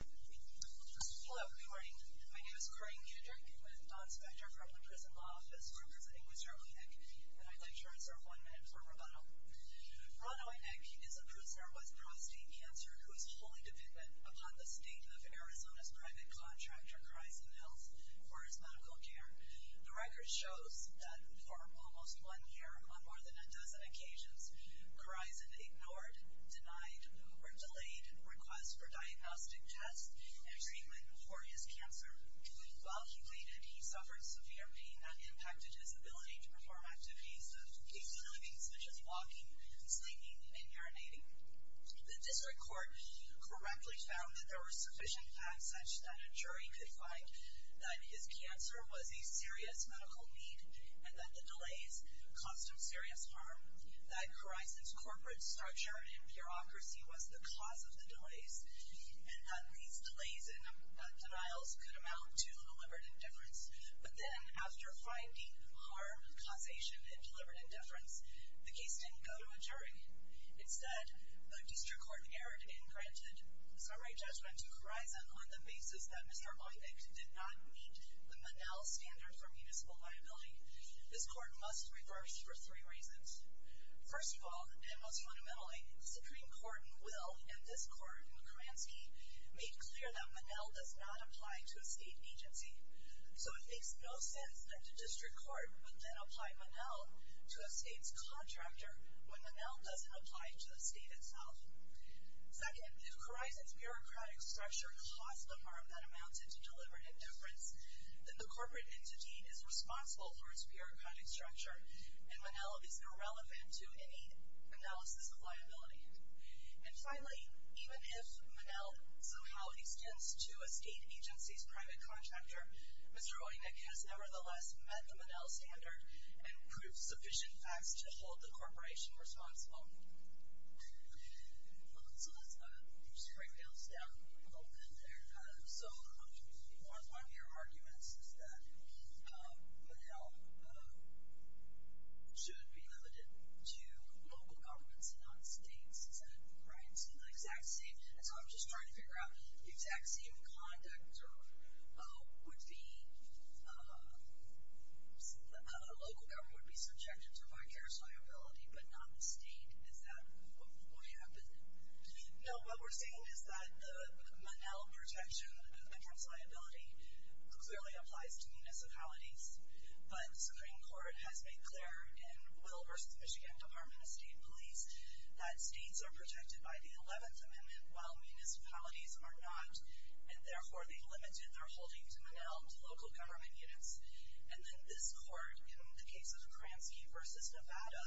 Hello, good morning. My name is Corrine Kudrick. I'm an Inspector from the Prison Law Office. We're presenting with Ron Oyenik, and I'd like to reserve one minute for rebuttal. Ron Oyenik is a prisoner with prostate cancer who is wholly dependent upon the state of Arizona's private contractor, Corizon Health, for his medical care. The record shows that for almost one year, on more than a dozen occasions, Corizon ignored, denied, or delayed requests for diagnostic tests and treatment for his cancer. While he waited, he suffered severe pain that impacted his ability to perform activities, including such as walking, singing, and urinating. The district court correctly found that there were sufficient facts such that a jury could find that his cancer was a serious medical need and that the delays caused him serious harm, that Corizon's corporate stature and bureaucracy was the cause of the delays, and that these delays and denials could amount to deliberate indifference. But then, after finding harm, causation, and deliberate indifference, the case didn't go to a jury. Instead, the district court erred and granted summary judgment to Corizon on the basis that Mr. Oyenik did not meet the Monell standard for municipal liability. This court must reverse for three reasons. First of all, and most fundamentally, Supreme Court Will and this court, McCransky, made clear that Monell does not apply to a state agency. So it makes no sense that the district court would then apply Monell to a state's contractor when Monell doesn't apply to the state itself. Second, if Corizon's bureaucratic structure caused the harm that amounted to deliberate indifference, then the corporate entity is responsible for its bureaucratic structure, and Monell is irrelevant to any analysis of liability. And finally, even if Monell somehow extends to a state agency's private contractor, Mr. Oyenik has nevertheless met the Monell standard and proved sufficient facts to hold the corporation responsible. All right. So let's just break this down a little bit in there. So one of your arguments is that Monell should be limited to local governments and not states. Is that right? So the exact same thing. So I'm just trying to figure out the exact same conduct would be that a local government would be subjected to vicarious liability but not the state. Is that what happened? No. What we're saying is that the Monell protection against liability clearly applies to municipalities, but Supreme Court has made clear in Will v. Michigan Department of State Police that states are protected by the 11th Amendment while municipalities are not, and therefore they limited their holding to Monell to local government units. And then this court, in the case of Kramsky v. Nevada,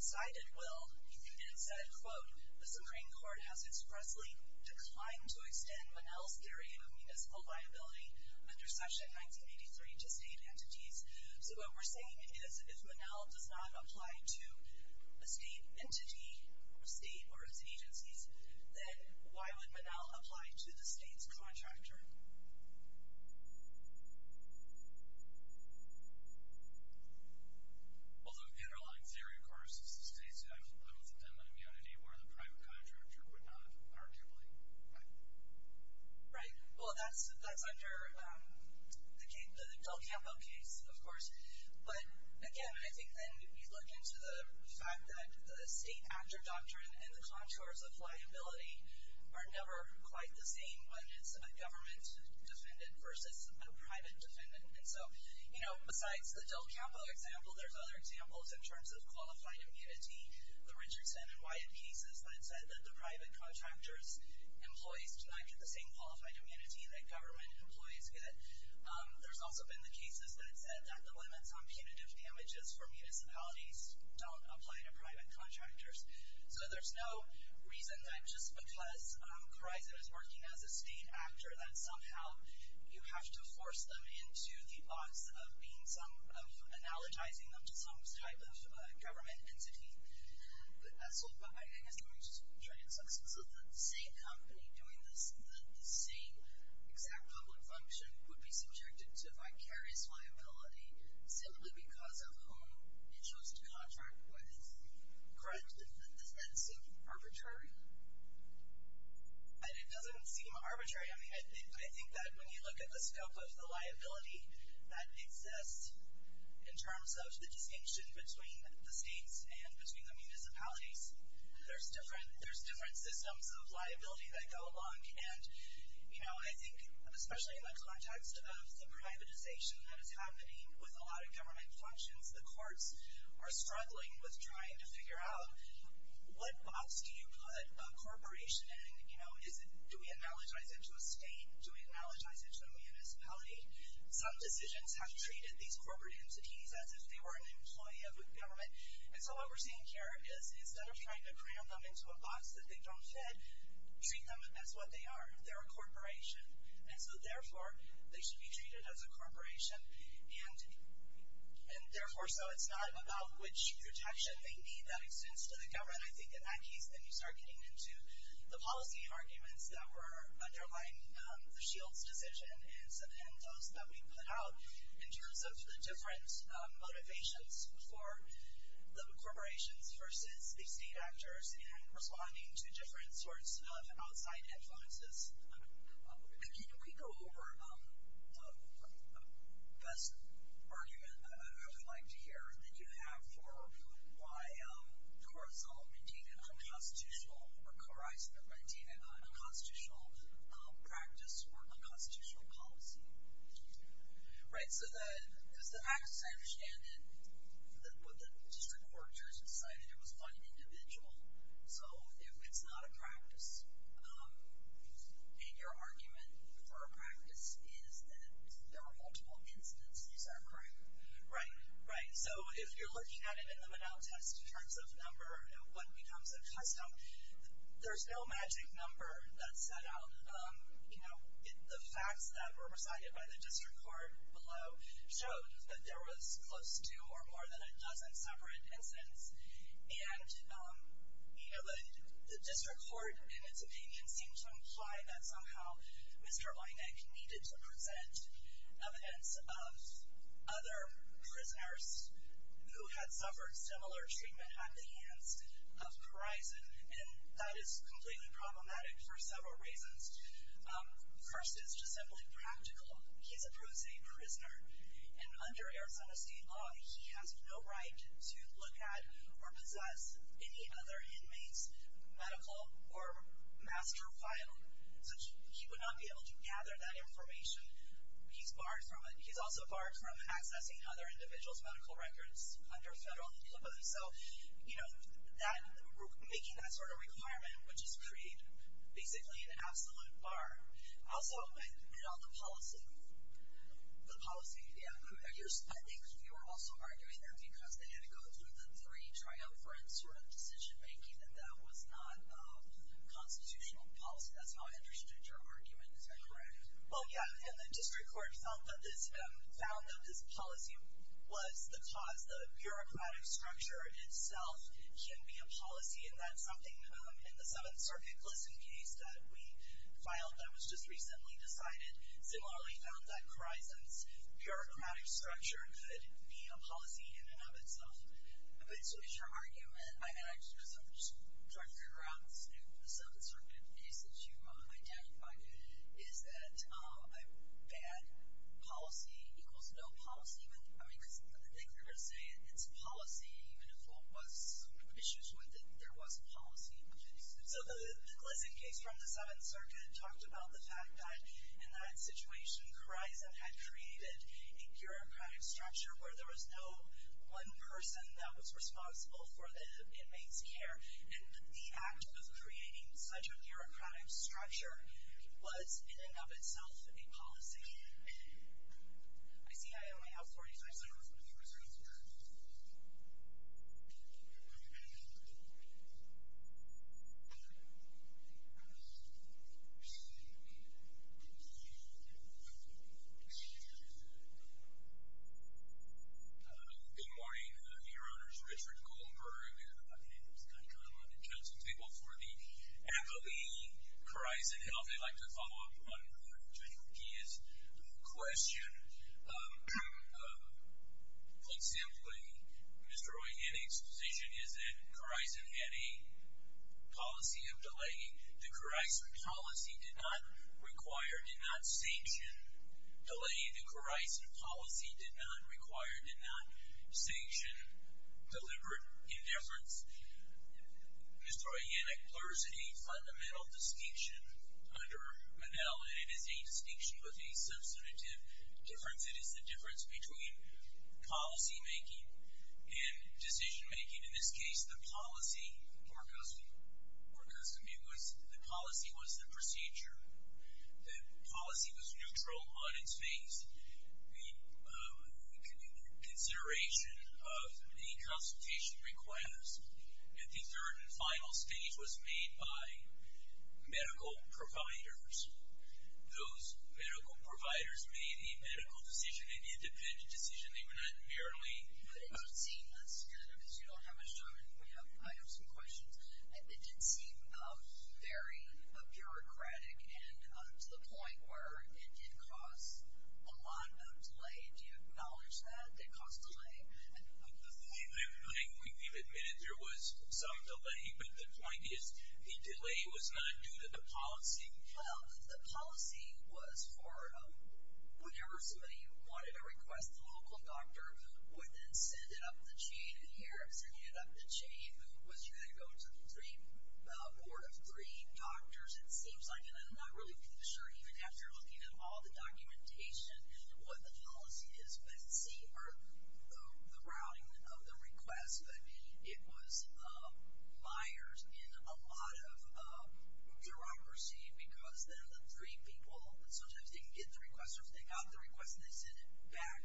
cited Will and said, quote, The Supreme Court has expressly declined to extend Monell's theory of municipal liability under Section 1983 to state entities. So what we're saying is if Monell does not apply to a state entity or state or its agencies, then why would Monell apply to the state's contractor? Well, the underlying theory, of course, is that states have limited immunity where the private contractor would not, arguably. Right. Right. Well, that's under the Del Campo case, of course. But, again, I think then you'd look into the fact that the state actor doctrine and the contours of liability are never quite the same when it's a government defendant versus a private defendant. And so, you know, besides the Del Campo example, there's other examples in terms of qualified immunity. The Richardson and Wyatt cases that said that the private contractor's employees do not get the same qualified immunity that government employees get. There's also been the cases that said that the limits on punitive damages for municipalities don't apply to private contractors. So there's no reason that just because Chrysler is working as a state actor that somehow you have to force them into the odds of being some, of analogizing them to some type of government entity. So I guess I'm going to just try to answer this. So the same company doing this and the same exact public function would be subjected to vicarious liability simply because of whom it chose to contract with? Correct? Does that seem arbitrary? It doesn't seem arbitrary. I think that when you look at the scope of the liability that exists in terms of the distinction between the states and between the municipalities, there's different systems of liability that go along. And, you know, I think especially in the context of the privatization that is happening with a lot of government functions, the courts are struggling with trying to figure out what box do you put a corporation in? Do we analogize it to a state? Do we analogize it to a municipality? Some decisions have treated these corporate entities as if they were an employee of a government. And so what we're seeing here is instead of trying to cram them into a box that they don't fit, treat them as what they are. They're a corporation. And so, therefore, they should be treated as a corporation and, therefore, so it's not about which protection they need that extends to the government. I think in that case, then you start getting into the policy arguments that were underlying the Shields decision and those that we put out in terms of the different motivations for the corporations versus the state actors and responding to different sorts of outside influences. Can we go over the best argument I would like to hear that you have for why the courts all deem it unconstitutional or coerce them to deem it an unconstitutional practice or unconstitutional policy? Right, because the fact is I understand that what the district court judges decided, it was one individual. So if it's not a practice, then your argument for a practice is that there were multiple incidents. Is that correct? Right, right. So if you're looking at it in the Manow test in terms of number and what becomes a custom, there's no magic number that's set out. The facts that were recited by the district court below showed that there was close to or more than a dozen separate incidents. And the district court, in its opinion, seemed to imply that somehow Mr. Oinek needed to present evidence of other prisoners who had suffered similar treatment at the hands of Verizon, and that is completely problematic for several reasons. First is just simply practical. He's a Bruce A. prisoner, and under Arizona State law, he has no right to look at or possess any other inmate's medical or master file. So he would not be able to gather that information. He's barred from it. He's also barred from accessing other individuals' medical records under federal law. So, you know, making that sort of requirement would just create basically an absolute bar. Also, you know, the policy, yeah, I think you were also arguing that because they had to go through the three triumphant sort of decision-making and that was not constitutional policy. That's how I understood your argument. Is that correct? Well, yeah, and the district court found that this policy was the cause. The bureaucratic structure itself can be a policy, and that's something in the Seventh Circuit listing case that we filed that was just recently decided. Similarly, they found that Verizon's bureaucratic structure could be a policy in and of itself. But so is your argument, and I'm actually going to sort of drift you around this new Seventh Circuit case that you identified, is that a bad policy equals no policy? I mean, because I think you're going to say it's policy, even if there was some issues with it, there was a policy. So the listing case from the Seventh Circuit talked about the fact that in that situation Verizon had created a bureaucratic structure where there was no one person that was responsible for the inmates' care, and the act of creating such a bureaucratic structure was in and of itself a policy. I see I only have 45 seconds. Good morning. Your Honor, this is Richard Goldberg. I'm here at the Buckingham House. I kind of want to introduce some people for the anthology, Verizon Health. First, I'd like to follow up on Judge McGee's question. Put simply, Mr. O'Hanlon's position is that Verizon had a policy of delay. The Verizon policy did not require, did not sanction delay. The Verizon policy did not require, did not sanction deliberate indifference. Mr. O'Hanlon, there is a fundamental distinction under Monell, and it is a distinction with a substantive difference. It is the difference between policymaking and decisionmaking. In this case, the policy was the procedure. The policy was neutral on its face. The consideration of a consultation request at the third and final stage was made by medical providers. Those medical providers made a medical decision, an independent decision. They were not merely putting out a statement. That's good, because you don't have much time, and I have some questions. It did seem very bureaucratic to the point where it did cause a lot of delay. Do you acknowledge that it caused delay? I think we've admitted there was some delay, but the point is the delay was not due to the policy. Well, the policy was for whenever somebody wanted to request the local doctor, would then send it up the chain. Was you going to go to a board of three doctors? It seems like it. I'm not really sure. Even after looking at all the documentation, what the policy is, we haven't seen the routing of the request, but it was mired in a lot of bureaucracy because then the three people sometimes didn't get the request or if they got the request and they sent it back.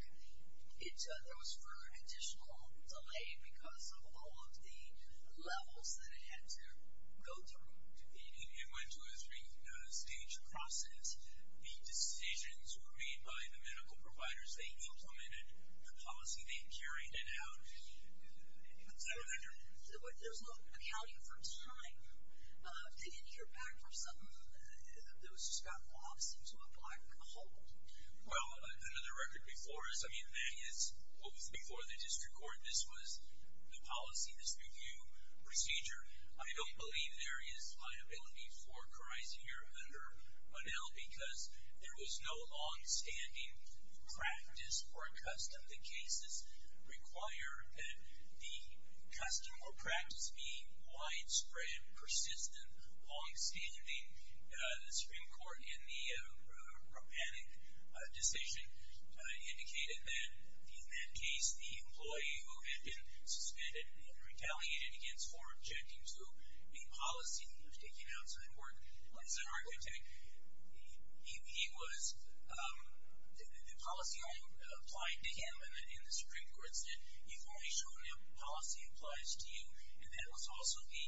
There was further additional delay because of all of the levels that it had to go through. It went to a three-stage process. The decisions were made by the medical providers. They implemented the policy. They carried it out. There's no accounting for time. Didn't you hear back from some of those who got lost into a black hole? Well, under the record before us, I mean, that is before the district court. This was the policy, this review procedure. I don't believe there is liability for Carice here under Bunnell because there was no longstanding practice or custom. The cases require that the custom or practice be widespread, persistent, and longstanding. The Supreme Court, in the Ropanik decision, indicated that in that case, the employee who had been suspended and retaliated against for objecting to a policy that was taken outside court, he was the policy only applied to him, and the Supreme Court said you've only shown your policy applies to you, and that was also the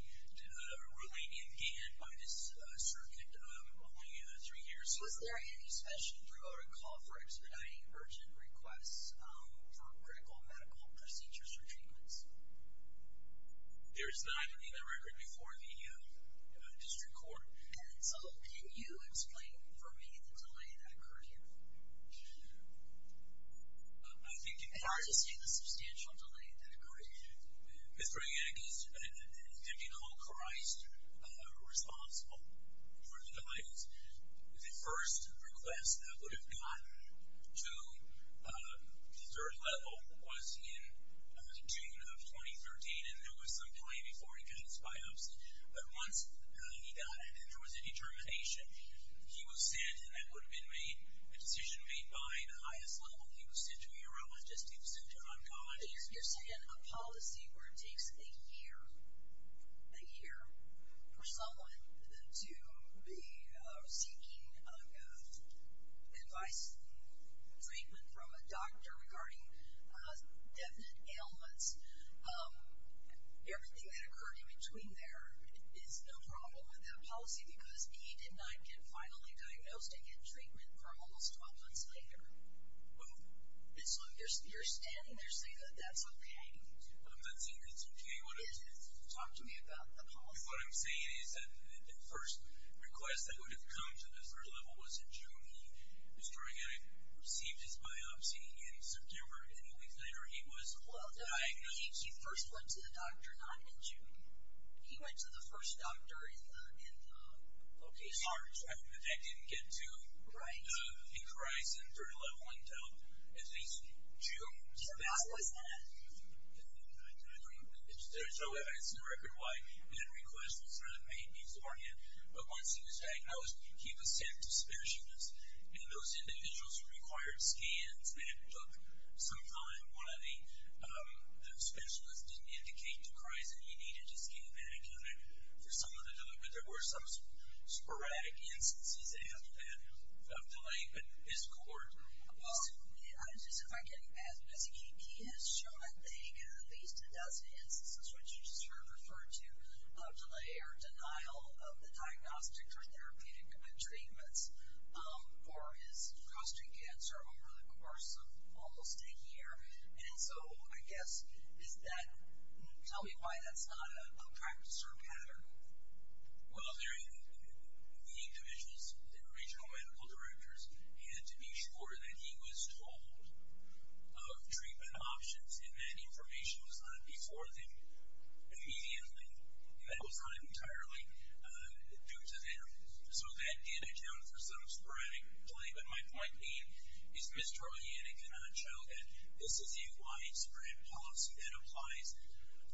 ruling in Gann by this circuit only three years ago. Was there any special, through our call for expediting urgent requests, for critical medical procedures or treatments? There is not, under the record, before the district court. And so can you explain for me the delay that occurred here? I think you can. Can I just say the substantial delay that occurred here? With bringing in a case and indicting all Carice responsible for the delays, the first request that would have gotten to the third level was in June of 2013, and there was some delay before he got his biopsy. But once he got it, there was a determination. He was sent, and that would have been made, a decision made by the highest level. He was sent to urologist. He was sent to oncologist. So you're saying a policy where it takes a year for someone to be seeking advice and treatment from a doctor regarding definite ailments, everything that occurred in between there is no problem with that policy because he did not get finally diagnosed and get treatment for almost 12 months later. You're standing there saying that that's okay. I'm not saying that's okay. Talk to me about the policy. What I'm saying is that the first request that would have come to the third level was in June. He was trying to receive his biopsy in September, and then a week later he was diagnosed. Well, that means he first went to the doctor not in June. He went to the first doctor in March. That didn't get to the chrysanthemum level until at least June. So that was that. There's no evidence in the record why that request was not made beforehand. But once he was diagnosed, he was sent to specialists, and those individuals required scans, and it took some time while the specialist didn't indicate the chrysanthemum he needed. There were some sporadic instances of delay, but his court assumed it. I'm just not getting past this. He has shown that he had at least a dozen instances, which you just referred to, of delay or denial of the diagnostics or therapeutic treatments for his prostate cancer over the course of almost a year. And so, I guess, tell me why that's not a practice or a pattern. Well, the regional medical directors had to be sure that he was told of treatment options and that information was not before them immediately. That was not entirely due to them. So that did account for some sporadic delay. But my point being is Mr. O'Hannan cannot show that this is a widespread policy that applies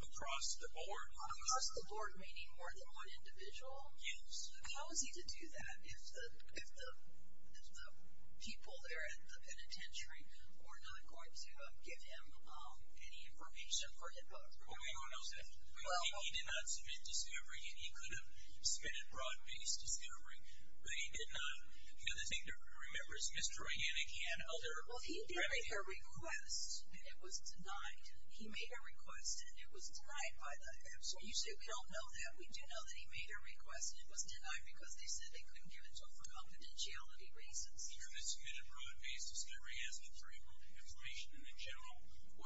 across the board. Across the board, meaning more than one individual? Yes. How is he to do that if the people there at the penitentiary were not going to give him any information for his doctor? Well, hang on a second. He did not submit discovery, and he could have submitted broad-based discovery, but he did not. Now, the thing to remember is Mr. O'Hannan, he had other remedies. Well, he did make a request, and it was denied. He made a request, and it was denied by the hospital. You say we don't know that. We do know that he made a request, and it was denied because they said they couldn't give it to him for confidentiality reasons. He could have submitted broad-based discovery, asking for information in a general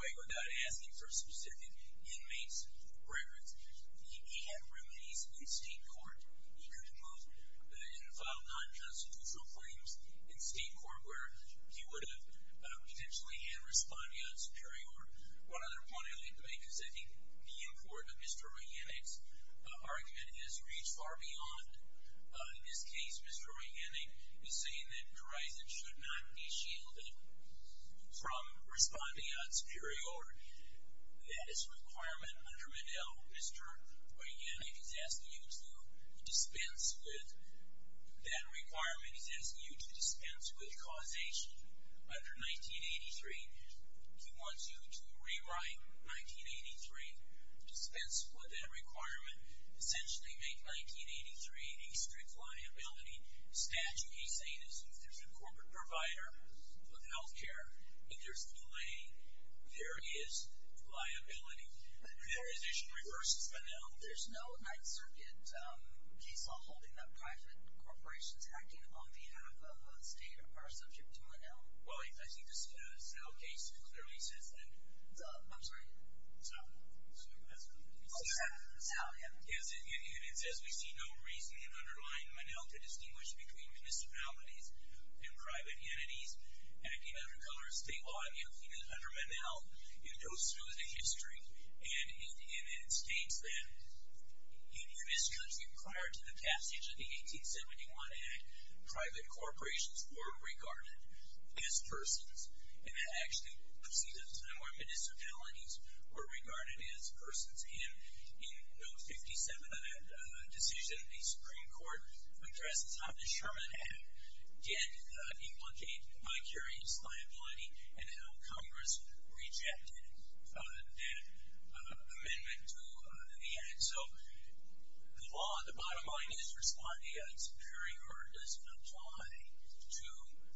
way without asking for a specific inmate's reference. He had remedies in state court. He could have moved and filed non-constitutional claims in state court where he would have potentially had responding odds superior. One other point I'd like to make is that the import of Mr. O'Hannan's argument has reached far beyond. In this case, Mr. O'Hannan is saying that Verizon should not be shielded from responding odds superior. That is a requirement under Medill. Mr. O'Hannan is asking you to dispense with that requirement. He's asking you to dispense with causation under 1983. He wants you to rewrite 1983, dispense with that requirement, essentially make 1983 a strict liability statute. He's saying as if there's a corporate provider of health care, interestingly, there is liability. There is issue versus Menil. There's no Ninth Circuit case holding that private corporations acting on behalf of a state are subject to Menil. Well, I think the cell case clearly says that. I'm sorry? Cell. Cell, yeah. It says we see no reason in underlying Menil to distinguish between municipalities and private entities acting under colored state law. You'll see that under Menil, it goes through the history, and it states that in this country prior to the passage of the 1871 Act, private corporations were regarded as persons, and that actually proceeds us to know where municipalities were regarded as persons. In No. 57 of that decision, the Supreme Court addresses how the Sherman Act did implicate vicarious liability and how Congress rejected that amendment to the Act. So the law, on the bottom line, is responding as appearing or does not tie to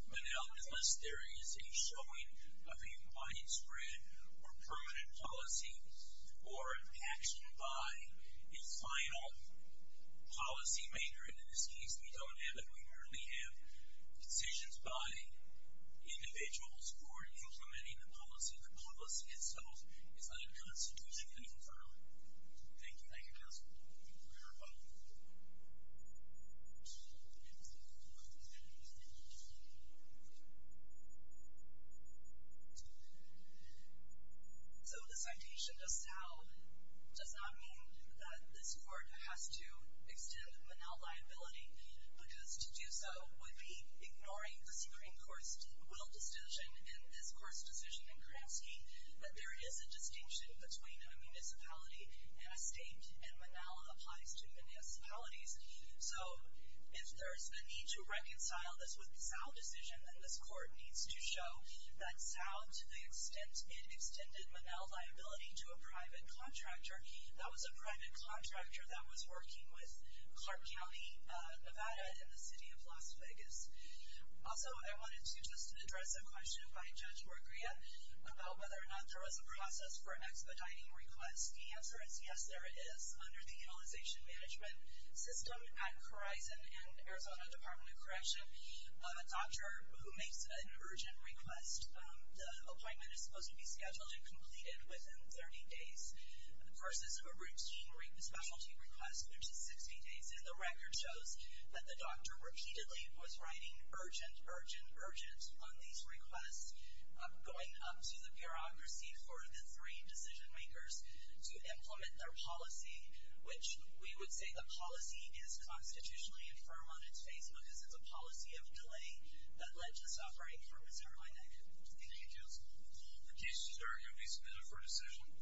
Menil unless there is a showing of a widespread or permanent policy or an action by a final policymaker. And in this case, we don't have that. We merely have decisions by individuals who are implementing the policy. The policy itself is unconstitutionally confirmed. Thank you. Thank you, counsel. We are about to move on. I'm sorry. So the citation does not mean that this court has to extend Menil liability because to do so would be ignoring the Supreme Court's will decision and this Court's decision in Kramski that there is a distinction between a municipality and a state, and Menil applies to municipalities. So if there's a need to reconcile this with the South decision, then this Court needs to show that South, to the extent it extended Menil liability to a private contractor, that was a private contractor that was working with Clark County, Nevada, and the city of Las Vegas. Also, I wanted to just address a question by Judge Morgria about whether or not there was a process for an expediting request. The answer is yes, there is. Under the Utilization Management System at Horizon and Arizona Department of Correction, a doctor who makes an urgent request, the appointment is supposed to be scheduled and completed within 30 days, versus a routine specialty request, which is 60 days. And the record shows that the doctor repeatedly was writing, urgent, urgent, urgent on these requests, going up to the bureaucracy for the three decision-makers to implement their policy, which we would say the policy is constitutionally infirm on its face, because it's a policy of delay that led to this operation. So I'm going to end it. Thank you, Judge. The cases are going to be submitted for decision.